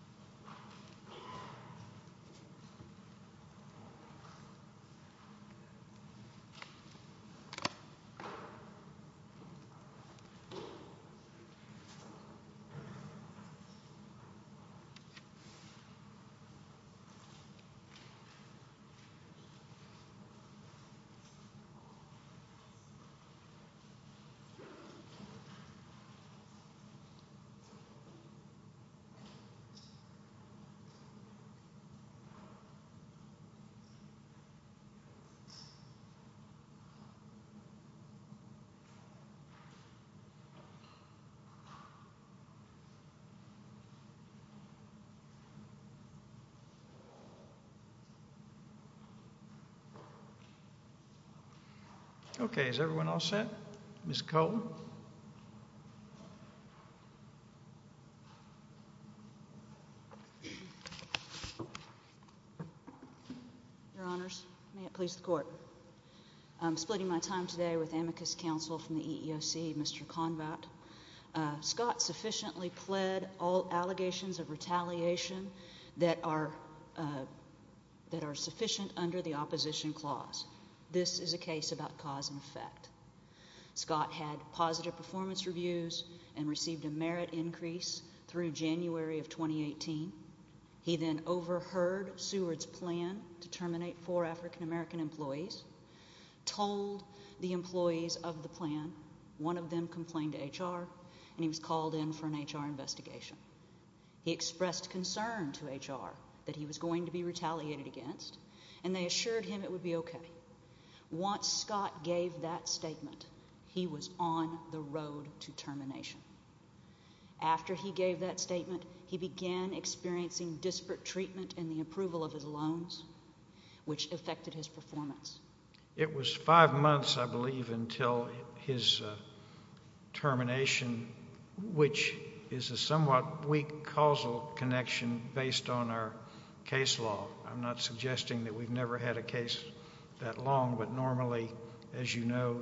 sank and splitting my time today with amicus counsel from the EEOC, Mr. Convatt, Scott sufficiently pled all allegations of retaliation that are that are sufficient under the opposition clause. This is a case about cause and effect. Scott had positive performance reviews and received a merit increase through January of 2018. He then overheard Seward's plan to terminate four African-American employees, told the employees of the plan, one of them complained to HR, and he was called in for an HR investigation. He expressed concern to HR that he was going to be retaliated against, and they assured him it would be okay. Once Scott gave that determination, after he gave that statement, he began experiencing disparate treatment in the approval of his loans, which affected his performance. It was five months, I believe, until his termination, which is a somewhat weak causal connection based on our case law. I'm not suggesting that we've never had a case that long, but normally, as you know,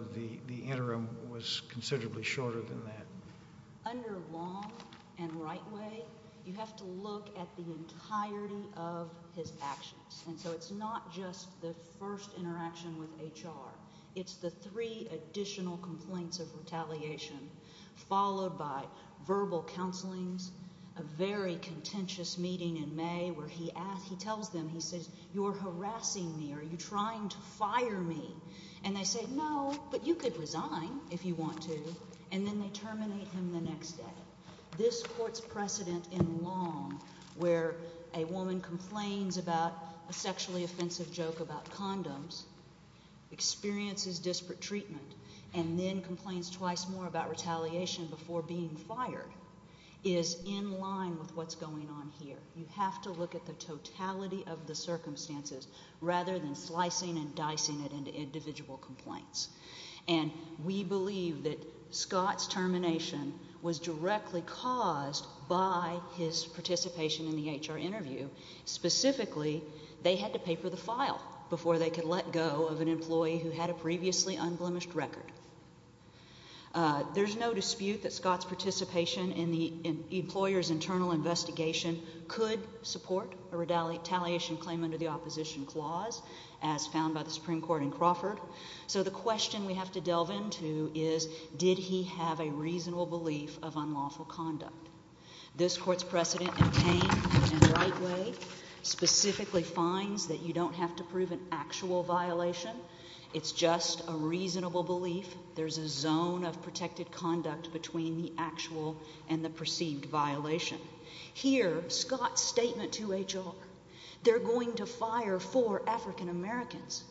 the interim was considerably shorter than that. Under long and right way, you have to look at the entirety of his actions, and so it's not just the first interaction with HR. It's the three additional complaints of retaliation followed by verbal counselings, a very contentious meeting in May where he tells them, he says, you're harassing me, or you're trying to fire me, and they say, no, but you could resign if you want to, and then they terminate him the next day. This court's precedent in long, where a woman complains about a sexually offensive joke about condoms, experiences disparate treatment, and then complains twice more about retaliation before being fired, is in line with what's going on here. You have to look at the totality of the circumstances rather than slicing and dicing it into individual complaints, and we believe that Scott's termination was directly caused by his participation in the HR interview. Specifically, they had to paper the file before they could let go of an employee who had a previously unblemished record. There's no dispute that Scott's participation in the employer's internal investigation could support a retaliation claim under the opposition clause, as found by the Supreme Court in Crawford. So the question we have to delve into is, did he have a reasonable belief of unlawful conduct? This court's precedent in pain and right way specifically finds that you don't have to prove an actual violation. It's just a reasonable belief. There's a zone of protected conduct between the actual and the perceived violation. Here, Scott's statement to HR, they're going to fire four African Americans.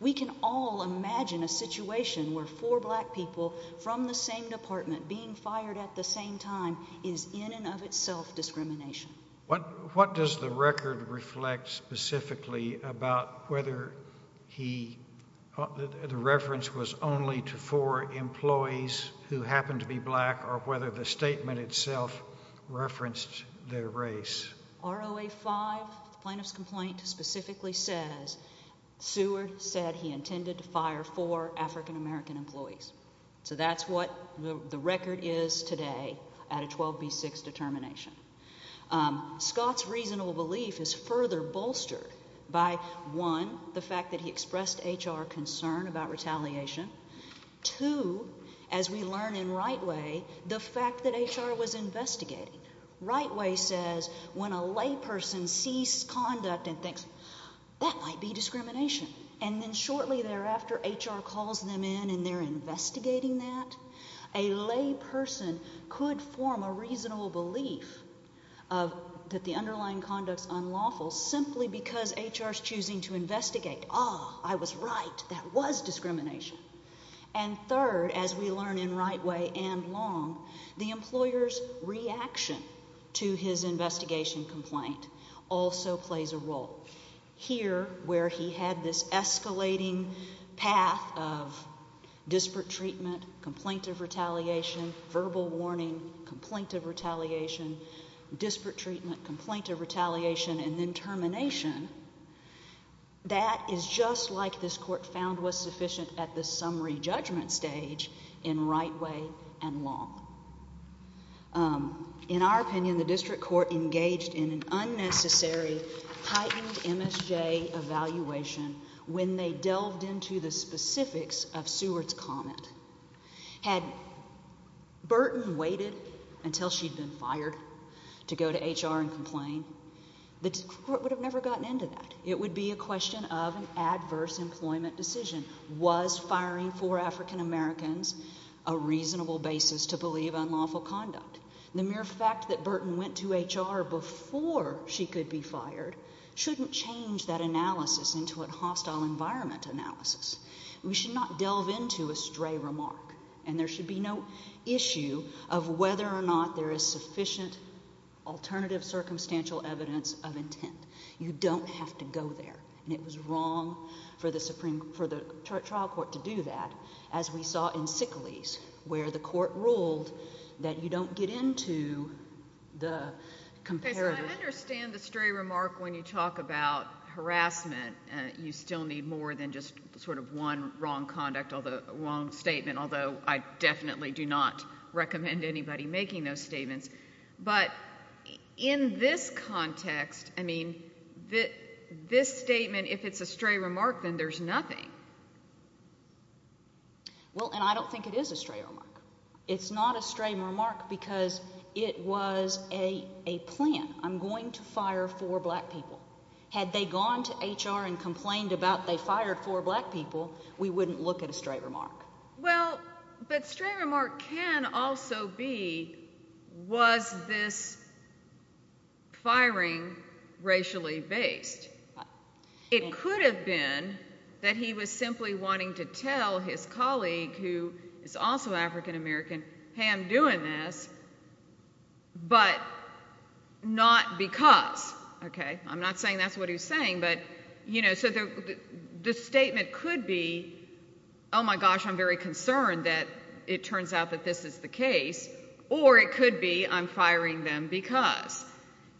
We can all imagine a situation where four black people from the same department being fired at the same time is in and of itself discrimination. What does the record reflect specifically about whether the reference was only to four employees who happen to be black or whether the statement itself referenced their race? ROA 5, the plaintiff's complaint, specifically says Seward said he intended to fire four African American employees. So that's what the record is today at a 12 v. 6 determination. Scott's reasonable belief is further bolstered by, one, the fact that he expressed HR concern about retaliation. Two, as we learn in right way, the fact that HR was investigating. Right way says when a lay person sees conduct and thinks, that might be discrimination. And then shortly thereafter, HR calls them in and they're investigating that. A lay person could form a reasonable belief that the underlying conduct is unlawful simply because HR is choosing to investigate. Ah, I was right. That was discrimination. And third, as we learn in right way and long, the employer's reaction to his investigation complaint also plays a role. Here, where he had this escalating path of disparate treatment, complaint of warning, complaint of retaliation, disparate treatment, complaint of retaliation, and then termination, that is just like this court found was sufficient at the summary judgment stage in right way and long. Um, in our opinion, the district court engaged in an unnecessary heightened MSJ evaluation when they delved into the specifics of Seward's comment. Had Burton waited until she'd been fired to go to HR and complain, the court would have never gotten into that. It would be a question of an adverse employment decision. Was firing four African Americans a reasonable basis to believe unlawful conduct? The mere fact that Burton went to HR before she could be fired shouldn't change that analysis into a hostile environment analysis. We should not delve into a stray remark and there should be no issue of whether or not there is sufficient alternative circumstantial evidence of intent. You don't have to go there. And it was wrong for the Supreme, for the trial court to do that, as we saw in Sicily's, where the court ruled that you don't get into the comparative. Okay, so I understand the stray remark when you talk about harassment. You still need more than just sort of one wrong conduct, wrong statement, although I definitely do not recommend anybody making those statements. But in this context, I mean, this statement, if it's a stray remark, then there's nothing. Well, and I don't think it is a stray remark. It's not a stray remark because it was a plan. I'm going to fire four black people. Had they gone to HR and complained about they fired four black people, we wouldn't look at a stray remark. Well, but stray remark can also be, was this firing racially based? It could have been that he was simply wanting to tell his colleague, who is also African American, hey, I'm doing this, but not because. Okay, I'm not saying that's what he was saying, but you know, so the statement could be, oh my gosh, I'm very concerned that it turns out that this is the case. Or it could be, I'm firing them because.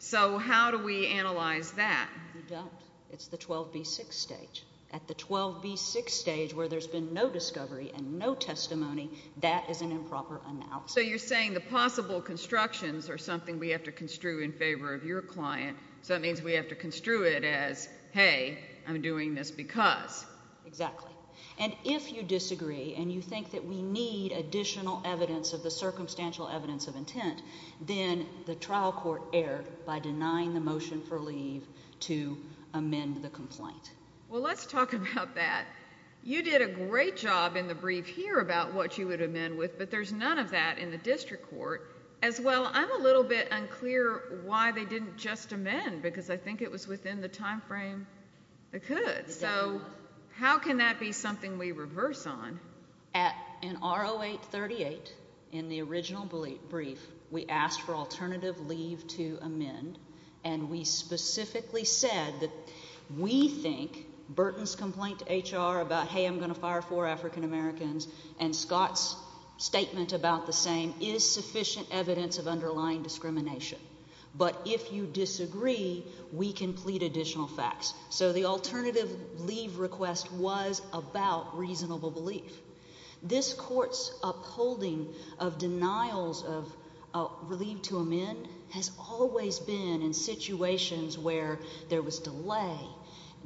So how do we analyze that? You don't. It's the 12B6 stage. At the 12B6 stage, where there's been no discovery and no testimony, that is an improper analysis. So you're saying the possible constructions are something we have to construe in favor of your client. So that means we have to construe it as, hey, I'm doing this because. Exactly. And if you disagree and you think that we need additional evidence of the circumstantial evidence of intent, then the trial court erred by denying the motion for leave to amend the complaint. Well, let's talk about that. You did a great job in the brief here about what you would amend with, but there's none of that in the district court. As well, I'm a little bit unclear why they didn't just amend, because I think it was within the time frame it could. So how can that be something we reverse on? At an R0838, in the original brief, we asked for alternative leave to amend, and we specifically said that we think Burton's complaint to HR about, hey, I'm going to fire four African Americans, and Scott's statement about the same, is sufficient evidence of underlying discrimination. But if you disagree, we can plead additional facts. So the alternative leave request was about reasonable belief. This court's upholding of denials of leave to amend has always been in situations where there was delay,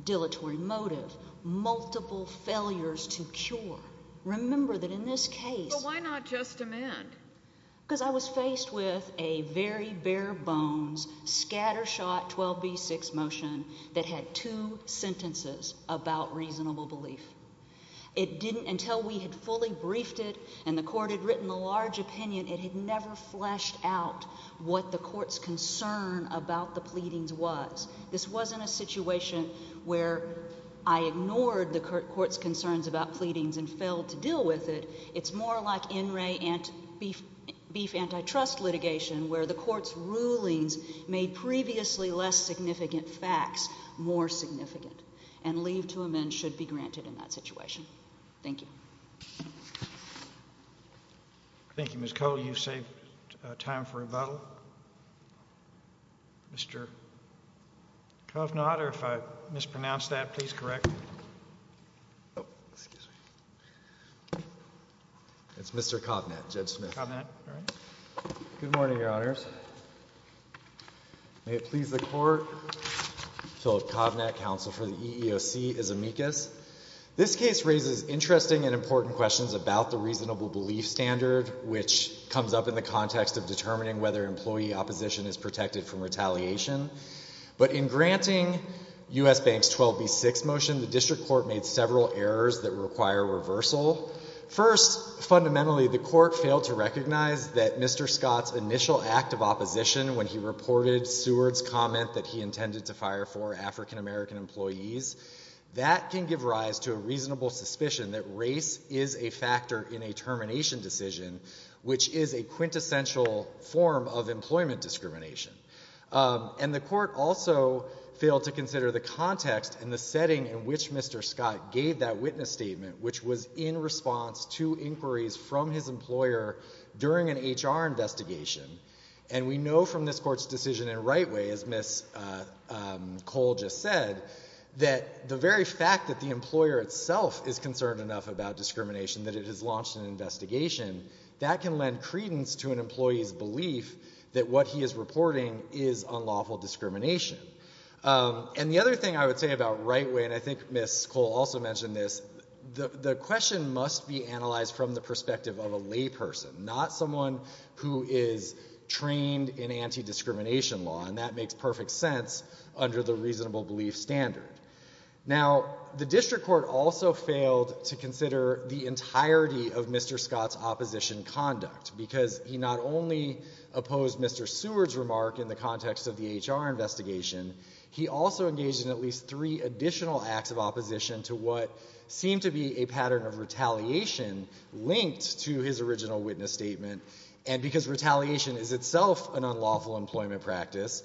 dilatory motive, multiple failures to cure. Remember that in this case... But why not just amend? Because I was faced with a very bare-bones, scattershot 12b6 motion that had two sentences about reasonable belief. It didn't, until we had fully briefed it and the court had given a large opinion, it had never fleshed out what the court's concern about the pleadings was. This wasn't a situation where I ignored the court's concerns about pleadings and failed to deal with it. It's more like NRA beef antitrust litigation, where the court's rulings made previously less significant facts more significant. And leave to amend should be granted in that situation. Thank you. Thank you, Ms. Coe. You saved time for rebuttal. Mr. Covnat, or if I mispronounced that, please correct me. It's Mr. Covnat, Judge Smith. Covnat, all right. Good morning, Your Honors. May it please the Court, Philip Covnat, counsel for the EEOC, as amicus. This case raises interesting and important questions about the reasonable belief standard, which comes up in the context of determining whether employee opposition is protected from retaliation. But in granting U.S. Bank's 12b6 motion, the district court made several errors that require reversal. First, fundamentally, the court failed to recognize that Mr. Scott's initial act of opposition when he reported Seward's comment that he intended to fire four African-American employees, that can give rise to a reasonable suspicion that race is a factor in a termination decision, which is a quintessential form of employment discrimination. And the court also failed to consider the context and the setting in which Mr. Scott gave that witness statement, which was in response to inquiries from his employer during an HR investigation. And we know from this court's decision in Rightway, as Ms. Cole just said, that the very fact that the employer itself is concerned enough about discrimination, that it has launched an investigation, that can lend credence to an employee's belief that what he is reporting is unlawful discrimination. And the other thing I would say about Rightway, and I think Ms. Cole also mentioned this, the question must be analyzed from the perspective of a layperson, not someone who is trained in anti-discrimination law. And that makes perfect sense under the reasonable belief standard. Now, the district court also failed to consider the entirety of Mr. Scott's opposition conduct, because he not only opposed Mr. Seward's remark in the context of the HR investigation, he also engaged in at least three additional acts of opposition to what seemed to be a pattern of retaliation linked to his original witness statement. And because retaliation is itself an unlawful employment practice,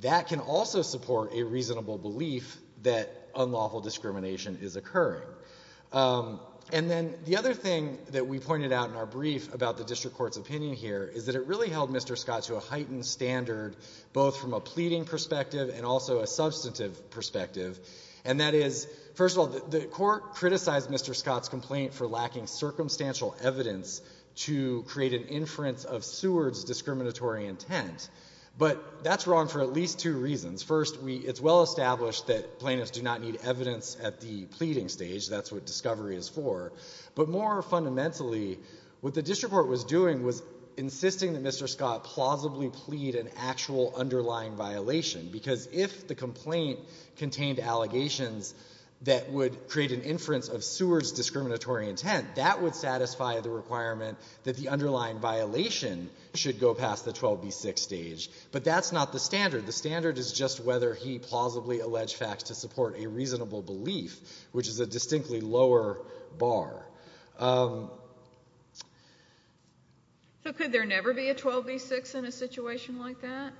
that can also support a reasonable belief that unlawful discrimination is occurring. And then the other thing that we pointed out in our brief about the district court's opinion here is that it really held Mr. Scott to a heightened standard both from a pleading perspective and also a substantive perspective. And that is, first of all, the court criticized Mr. Scott's complaint for lacking circumstantial evidence to create an inference of Seward's discriminatory intent. But that's wrong for at least two reasons. First, it's well established that plaintiffs do not need evidence at the pleading stage. That's what discovery is for. But more fundamentally, what the district court was doing was insisting that Mr. Scott plausibly plead an actual underlying violation. Because if the complaint contained allegations that would create an inference of Seward's discriminatory intent, then the district court would have to provide the requirement that the underlying violation should go past the 12b-6 stage. But that's not the standard. The standard is just whether he plausibly alleged facts to support a reasonable belief, which is a distinctly lower bar. So could there never be a 12b-6 in a situation like that?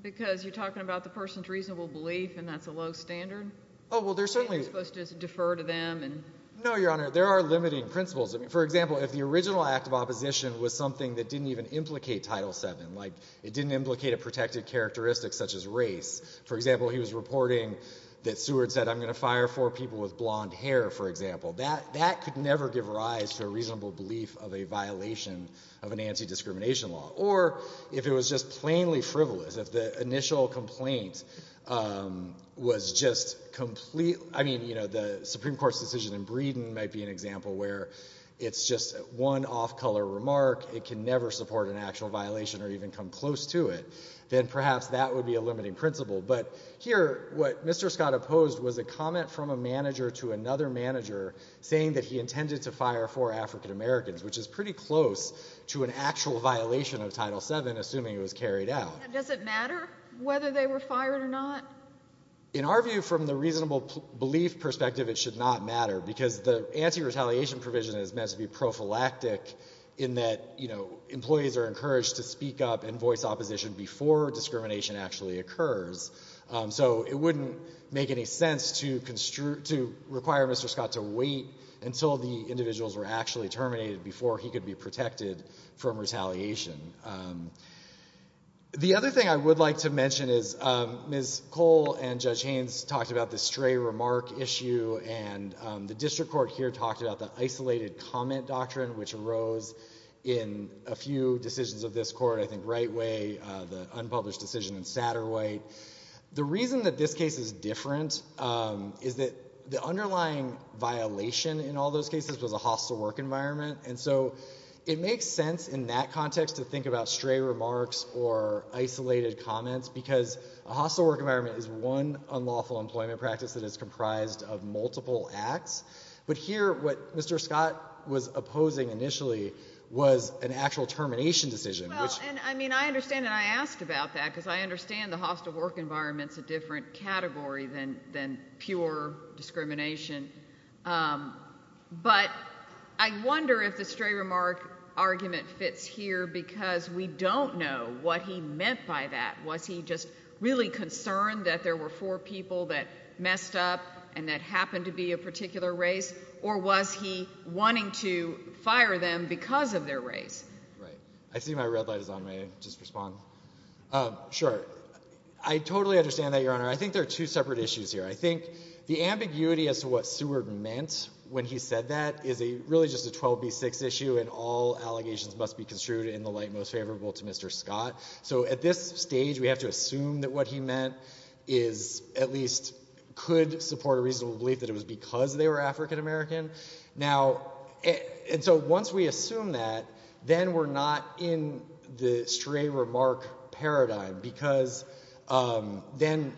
Because you're talking about the person's reasonable belief and that's a low standard? Oh, well, there's certainly... Maybe you're supposed to defer to them and... No, Your Honor. There are limiting principles. For example, if the original act of opposition was something that didn't even implicate Title VII, like it didn't implicate a protected characteristic such as race. For example, he was reporting that Seward said, I'm going to fire four people with blonde hair, for example. That could never give rise to a reasonable belief of a violation of an anti-discrimination law. Or if it was just plainly frivolous, if the initial complaint was just complete... I mean, you know, the Supreme Court's decision in Breeden might be an example where it's just one off-color remark. It can never support an actual violation or even come close to it. Then perhaps that would be a limiting principle. But here, what Mr. Scott opposed was a comment from a manager to another manager saying that he intended to fire four African-Americans, which is pretty close to an actual violation of Title VII, assuming it was carried out. Does it matter whether they were fired or not? In our view, from the reasonable belief perspective, it should not matter, because the anti-retaliation provision is meant to be prophylactic in that, you know, employees are encouraged to speak up and voice opposition before discrimination actually occurs. So it wouldn't make any sense to require Mr. Scott to wait until the individuals were actually terminated before he could be The other thing I would like to mention is Ms. Cole and Judge Haynes talked about the stray remark issue, and the District Court here talked about the isolated comment doctrine, which arose in a few decisions of this Court. I think Wright Way, the unpublished decision in Satterwhite. The reason that this case is different is that the underlying violation in all those cases was a hostile work environment. And so it makes sense in that context to think about stray remarks or isolated comments, because a hostile work environment is one unlawful employment practice that is comprised of multiple acts. But here, what Mr. Scott was opposing initially was an actual termination decision, which Well, and I mean, I understand, and I asked about that, because I understand the hostile work environment's a different category than pure discrimination. But I wonder if the stray remark argument fits here, because we don't know what he meant by that. Was he just really concerned that there were four people that messed up and that happened to be a particular race, or was he wanting to fire them because of their race? Right. I see my red light is on. May I just respond? Sure. I totally understand that, Your Honor. I think there are two separate issues here. I think the ambiguity as to what and all allegations must be construed in the light most favorable to Mr. Scott. So at this stage, we have to assume that what he meant is at least could support a reasonable belief that it was because they were African-American. Now, and so once we assume that, then we're not in the stray remark paradigm, because then I understand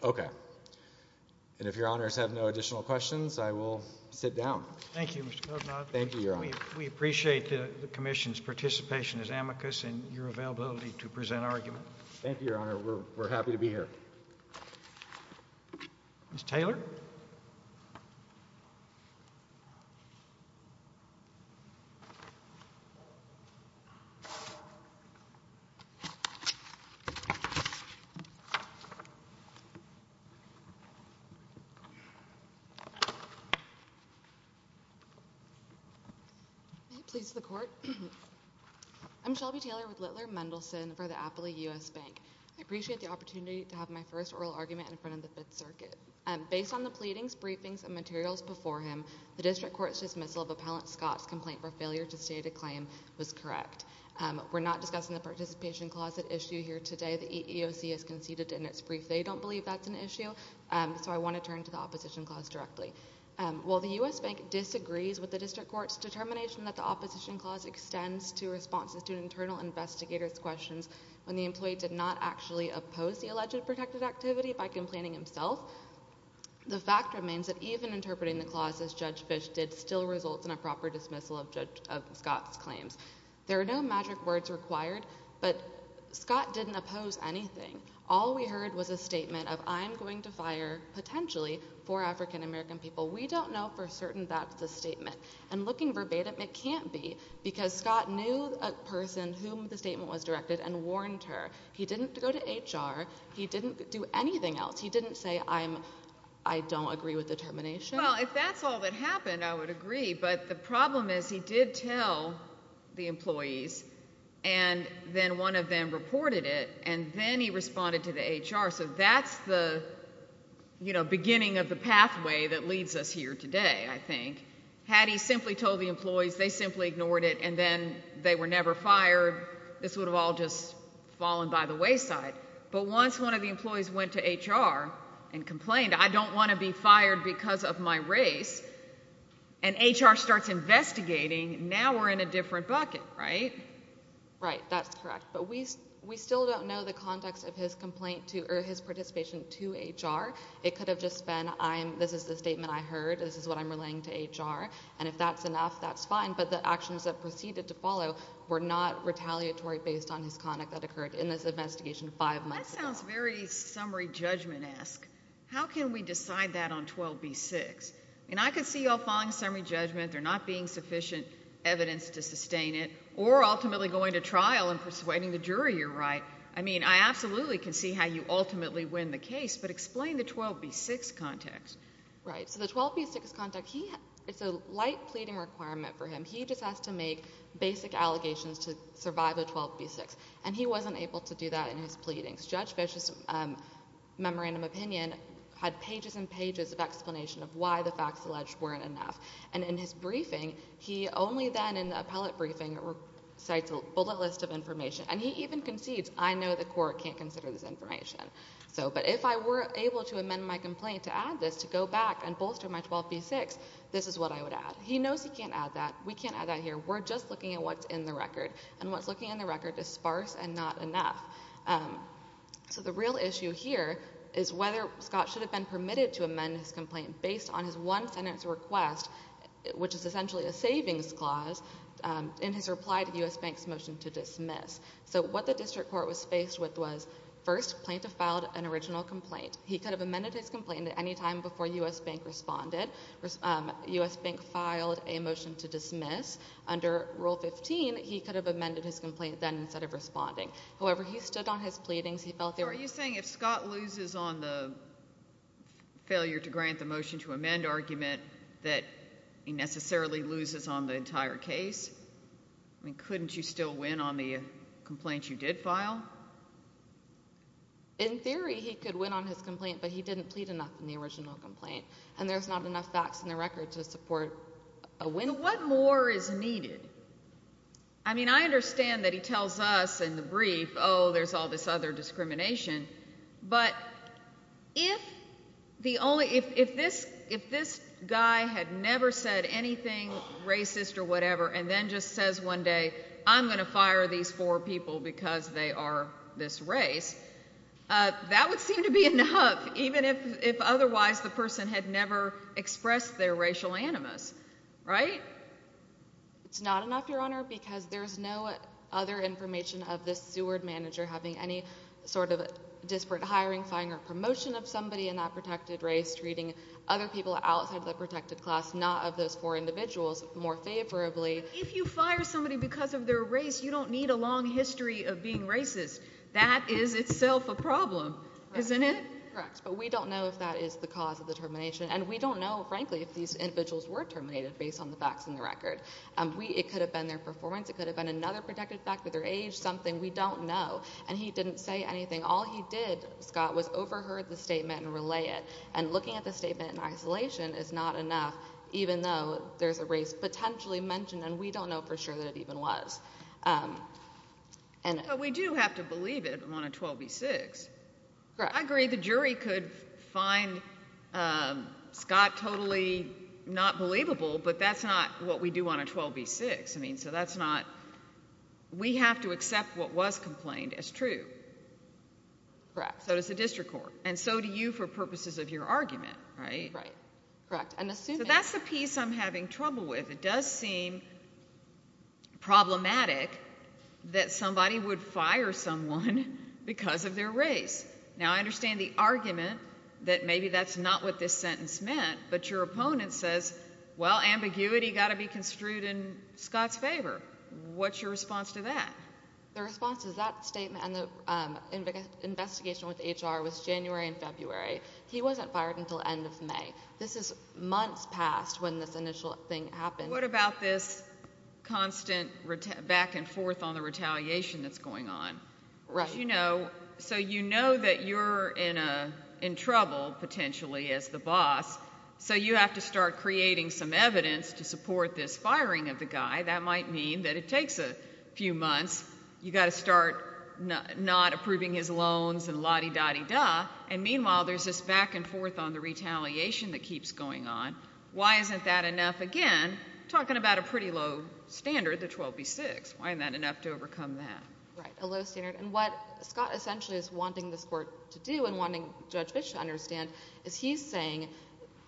that. Okay. And if Your Honors have no additional questions, I will sit down. Thank you, Mr. Kozloff. Thank you, Your Honor. We appreciate the Commission's participation as amicus and your availability to present Thank you, Your Honor. We're happy to be here. Ms. Taylor? May it please the Court? I'm Shelby Taylor with Littler Mendelsohn for the Appley U.S. Bank. I appreciate the opportunity to have my first oral argument in front of the Fifth Amendment. Based on the pleadings, briefings, and materials before him, the district court's dismissal of Appellant Scott's complaint for failure to state a claim was correct. We're not discussing the participation clause at issue here today. The EEOC has conceded in its brief they don't believe that's an issue, so I want to turn to the opposition clause directly. While the U.S. Bank disagrees with the district court's determination that the opposition clause extends to responses to internal investigators' questions when the fact remains that even interpreting the clause as Judge Fish did still result in a proper dismissal of Scott's claims. There are no magic words required, but Scott didn't oppose anything. All we heard was a statement of, I'm going to fire, potentially, four African American people. We don't know for certain that's the statement. And looking verbatim, it can't be, because Scott knew a person whom the statement was directed and warned her. He didn't go to HR. He didn't do anything else. He didn't say, I'm, I don't agree with the determination. Well, if that's all that happened, I would agree, but the problem is he did tell the employees, and then one of them reported it, and then he responded to the HR, so that's the, you know, beginning of the pathway that leads us here today, I think. Had he simply told the employees, they simply ignored it, and then they were never fired, this would have all just fallen by the wayside. But once one of the employees went to HR and complained, I don't want to be fired because of my race, and HR starts investigating, now we're in a different bucket, right? Right, that's correct, but we still don't know the context of his complaint to, or his participation to HR. It could have just been, I'm, this is the statement I heard, this is what I'm relaying to HR, and if that's enough, that's fine, but the actions that proceeded to follow were not retaliatory based on his conduct that occurred in this investigation five months ago. That sounds very summary judgment-esque. How can we decide that on 12b-6? I mean, I could see y'all following summary judgment, there not being sufficient evidence to sustain it, or ultimately going to trial and persuading the jury you're right. I mean, I absolutely can see how you ultimately win the case, but explain the 12b-6 context. Right, so the 12b-6 context, he, it's a light pleading requirement for him. He just has to make basic allegations to survive a 12b-6, and he wasn't able to do that in his pleadings. Judge Fish's memorandum opinion had pages and pages of explanation of why the facts alleged weren't enough, and in his briefing, he only then, in the appellate briefing, cites a bullet list of information, and he even concedes, I know the court can't consider this information, so, but if I were able to amend my complaint to add this, to go back and bolster my 12b-6, this is what I would add. He knows he can't add that. We can't add that here. We're just looking at what's in the record, and what's looking in the record is sparse and not enough. So the real issue here is whether Scott should have been permitted to amend his complaint based on his one sentence request, which is essentially a savings clause, in his reply to U.S. Bank's motion to dismiss. So what the district court was faced with was, first, plaintiff filed an original complaint. He could have amended his complaint at any time before U.S. Bank responded. U.S. Bank filed a motion to dismiss. Under Rule 15, he could have amended his complaint then instead of responding. However, he stood on his pleadings. He felt there were... So are you saying if Scott loses on the failure to grant the motion to amend argument, that he necessarily loses on the entire case? I mean, couldn't you still win on the complaint you did file? In theory, he could win on his complaint, but he didn't plead enough in the original complaint, and there's not enough facts in the record to support a win. What more is needed? I mean, I understand that he tells us in the brief, oh, there's all this other discrimination, but if the only... If this guy had never said anything racist or whatever and then just says one day, I'm going to fire these four people because they are this race, that would seem to be enough, even if otherwise the person had never expressed their racial animus, right? It's not enough, Your Honor, because there's no other information of this steward manager having any sort of disparate hiring, firing or promotion of somebody in that protected race treating other people outside the protected class, not of those four individuals, more favorably. If you fire somebody because of their race, you don't need a long history of being racist. That is itself a problem. Isn't it? Correct, but we don't know if that is the cause of the termination, and we don't know, frankly, if these individuals were terminated based on the facts in the record. It could have been their performance. It could have been another protected factor, their age, something. We don't know, and he didn't say anything. All he did, Scott, was overheard the statement and relay it, and looking at the statement in isolation is not enough, even though there's a race potentially mentioned, and we don't know for sure that it even was. But we do have to believe it on a 12B6. I agree the jury could find Scott totally not believable, but that's not what we do on a 12B6. I mean, so that's not, we have to accept what was complained as true. Correct. So does the district court, and so do you for purposes of your argument, right? Correct. So that's the piece I'm having trouble with. It does seem problematic that somebody would fire someone because of their race. Now, I understand the argument that maybe that's not what this sentence meant, but your opponent says, well, ambiguity got to be construed in Scott's favor. What's your response to that? The response to that statement and the investigation with HR was January and February. He wasn't fired until end of May. This is months past when this initial thing happened. What about this constant back and forth on the retaliation that's going on? Right. So you know that you're in trouble potentially as the boss, so you have to start creating some evidence to support this firing of the guy. That might mean that it takes a few months. You got to start not approving his loans and la-di-da-di-da. And meanwhile, there's this constant back and forth on the retaliation that keeps going on. Why isn't that enough? Again, talking about a pretty low standard, the 12B6. Why isn't that enough to overcome that? Right, a low standard. And what Scott essentially is wanting this Court to do and wanting Judge Fitch to understand is he's saying,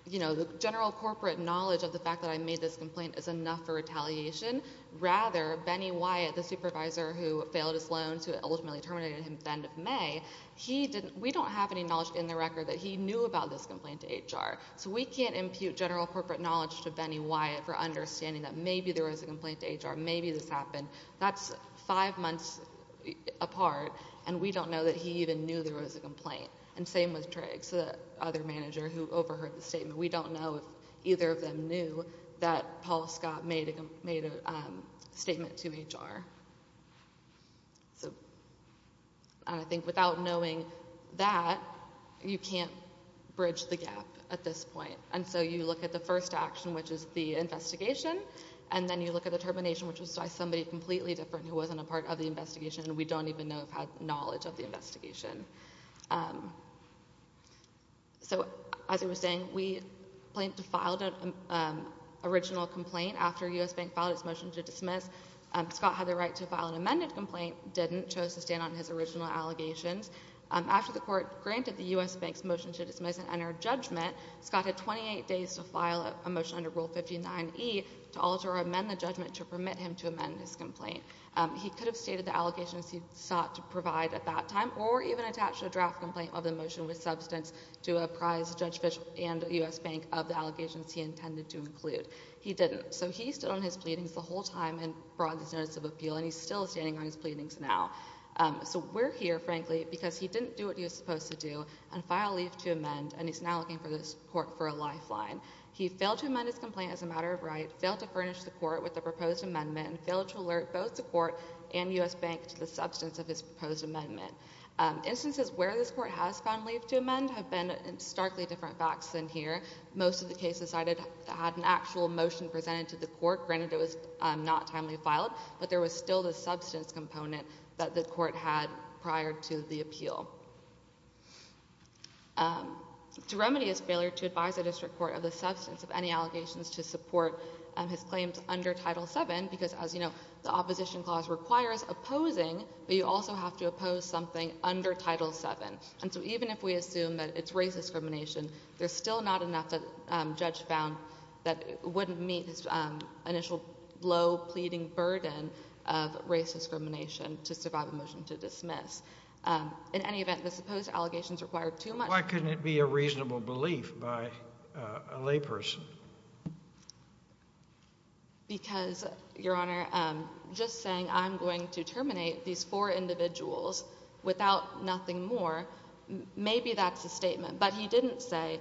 you know, the general corporate knowledge of the fact that I made this complaint is enough for retaliation. Rather, Benny Wyatt, the supervisor who failed his loans, who ultimately terminated him at the end of May, he didn't, we don't have any record that he knew about this complaint to HR. So we can't impute general corporate knowledge to Benny Wyatt for understanding that maybe there was a complaint to HR, maybe this happened. That's five months apart, and we don't know that he even knew there was a complaint. And same with Triggs, the other manager who overheard the statement. We don't know if either of them knew that Paul Scott made a statement to HR. So I think without knowing that, you can't bridge the gap at this point. And so you look at the first action, which is the investigation, and then you look at the termination, which was by somebody completely different who wasn't a part of the investigation, and we don't even know if he had knowledge of the investigation. So as I was saying, we filed an original complaint after U.S. Bank filed its motion to dismiss. Scott had the right to file an amended complaint, didn't, chose to stand on his original allegations. After the court granted the U.S. Bank's motion to dismiss and enter judgment, Scott had 28 days to file a motion under Rule 59E to alter or amend the judgment to permit him to amend his complaint. He could have stated the allegations he sought to provide at that time, or even attach a draft complaint of the motion with substance to apprise Judge Fisch and U.S. Bank of the allegations he intended to include. He didn't. So he stood on his pleadings the day he brought this notice of appeal, and he's still standing on his pleadings now. So we're here, frankly, because he didn't do what he was supposed to do and filed leave to amend, and he's now looking for this court for a lifeline. He failed to amend his complaint as a matter of right, failed to furnish the court with a proposed amendment, and failed to alert both the court and U.S. Bank to the substance of his proposed amendment. Instances where this court has found leave to amend have been starkly different facts than here. Most of the cases I had had an actual motion presented to the court, granted it was not timely filed, but there was still the substance component that the court had prior to the appeal. To remedy his failure to advise the district court of the substance of any allegations to support his claims under Title VII, because as you know, the opposition clause requires opposing, but you also have to oppose something under Title VII. And so even if we assume that it's race discrimination, there's still not enough that Judge found that wouldn't meet his initial low, pleading burden of race discrimination to survive a motion to dismiss. In any event, the supposed allegations required too much... Why couldn't it be a reasonable belief by a layperson? Because, Your Honor, just saying, I'm going to terminate these four individuals without nothing more, maybe that's a statement. But he didn't say,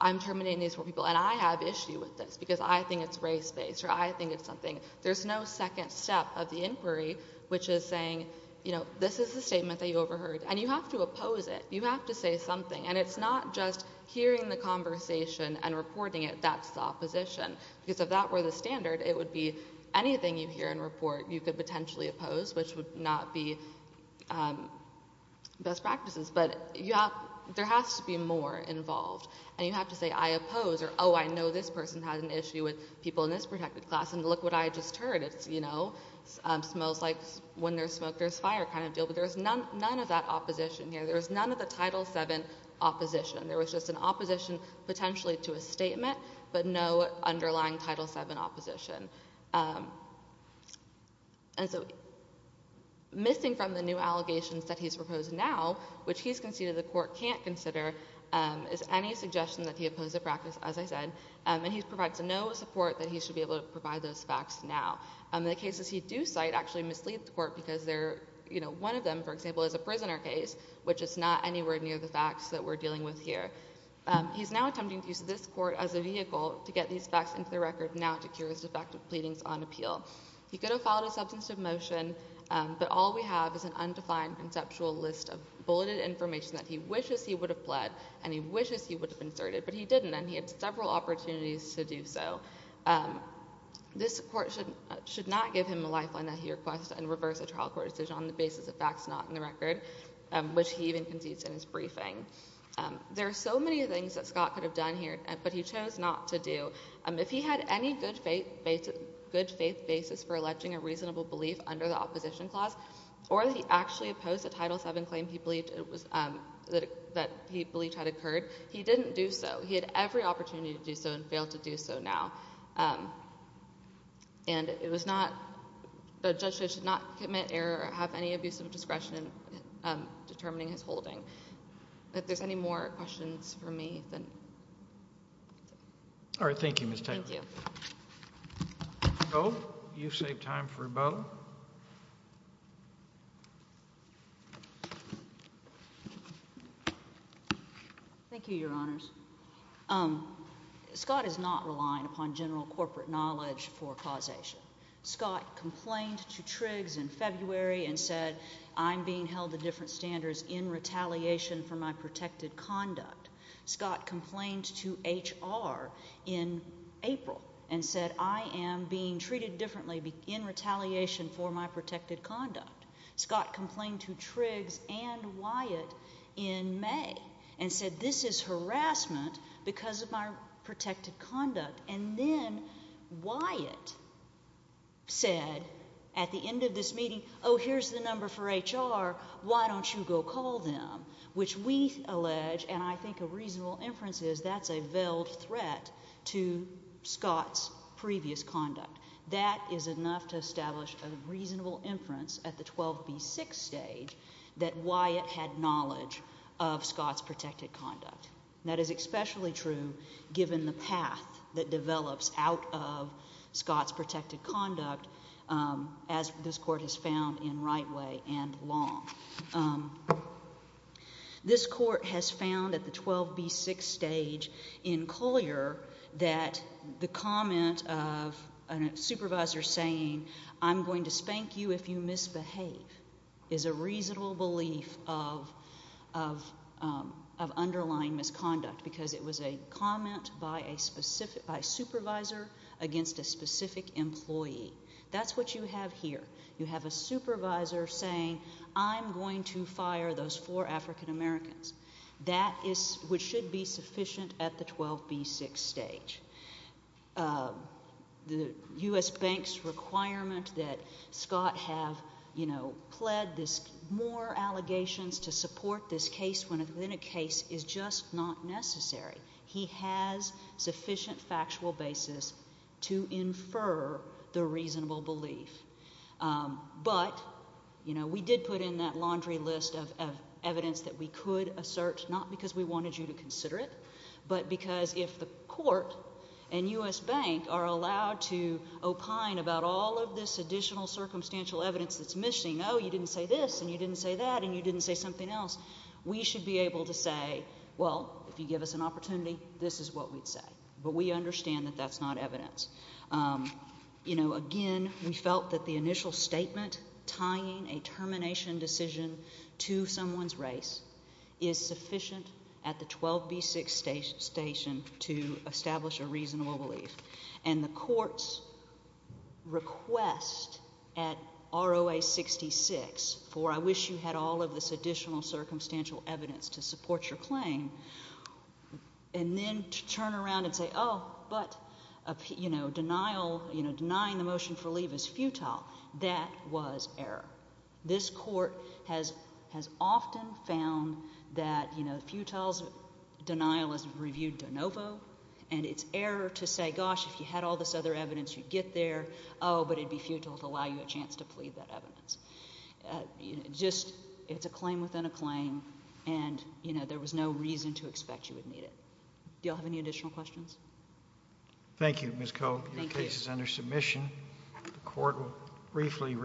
I'm terminating these four individuals with this, because I think it's race-based, or I think it's something. There's no second step of the inquiry, which is saying, you know, this is a statement that you overheard. And you have to oppose it. You have to say something. And it's not just hearing the conversation and reporting it, that's the opposition. Because if that were the standard, it would be anything you hear and report, you could potentially oppose, which would not be best practices. But there has to be more involved. And you have to say, I oppose, or, oh, I know this person has an issue with people in this protected class, and look what I just heard. It's, you know, smells like when there's smoke, there's fire kind of deal. But there's none of that opposition here. There's none of the Title VII opposition. There was just an opposition potentially to a statement, but no underlying Title VII opposition. And so, missing from the new allegations that he's proposed now, which he's conceded the support that he should be able to provide those facts now. The cases he do cite actually mislead the court because they're, you know, one of them, for example, is a prisoner case, which is not anywhere near the facts that we're dealing with here. He's now attempting to use this court as a vehicle to get these facts into the record now to cure his defective pleadings on appeal. He could have followed a substantive motion, but all we have is an undefined conceptual list of bulleted information that he wishes he would have pled, and he has no opportunities to do so. This court should not give him a lifeline that he requests and reverse a trial court decision on the basis of facts not in the record, which he even concedes in his briefing. There are so many things that Scott could have done here, but he chose not to do. If he had any good faith basis for alleging a reasonable belief under the opposition clause, or that he actually opposed the Title VII claim he believed had occurred, he didn't do so. He had every opportunity to do so and failed to do so now. And it was not, the judge should not commit error or have any abuse of discretion in determining his holding. If there's any more questions for me, then... All right. Thank you, Ms. Taylor. Thank you. Ms. Bowe, you've saved time for Bowe. Thank you, Your Honors. Scott is not relying upon general corporate knowledge for causation. Scott complained to Triggs in February and said, I'm being held to different standards in retaliation for my protected conduct. Scott complained to HR in April and said, I am being treated differently in retaliation for my protected conduct. Scott complained to Triggs and Wyatt in May and said, this is harassment because of my protected conduct. And then Wyatt said at the end of this meeting, oh, here's the number for HR. Why don't you go call them, which we allege, and I think a reasonable inference is that's a veiled threat to Scott's previous conduct. That is enough to establish a reasonable inference at the 12B6 stage that Wyatt had knowledge of Scott's protected conduct. That is especially true given the path that develops out of Scott's protected conduct as this court has found in right way and law. This court has found at the 12B6 stage in Collier that the comment of a supervisor saying, I'm going to spank you if you misbehave, is a reasonable belief of underlying misconduct because it was a comment by a supervisor against a specific employee. That's what you have here. You have a supervisor saying, I'm going to fire those four African Americans. That is what should be sufficient at the 12B6 stage. The U.S. Bank's requirement that Scott have pled this more allegations to support this case when it's in a case is just not necessary. He has sufficient factual basis to infer the reasonable belief. But we did put in that laundry list of evidence that we could assert, not because we wanted you to consider it, but because if the court and U.S. Bank are allowed to opine about all of this additional circumstantial evidence that's missing, oh, you didn't say this and you didn't say that and you didn't say something else, we should be able to say, well, if you give us an opportunity, this is what we'd say. But we understand that that's not evidence. Again, we felt that the initial statement tying a termination decision to someone's race is sufficient at the 12B6 station to establish a reasonable belief. And the court's request at ROA 66 for I wish you had all of this additional circumstantial evidence to support your claim and then to turn around and say, oh, but denying the motion for leave is futile, that was error. This court has often found that futile denial is reviewed de novo and it's error to say, gosh, if you had all this other evidence, you'd get there, oh, but it'd be futile to allow you a chance to plead that evidence. It's a claim within a claim and there was no reason to expect you would need it. Do you all have any additional questions? Thank you, Ms. Koch. Your case is under submission. The court will briefly review it.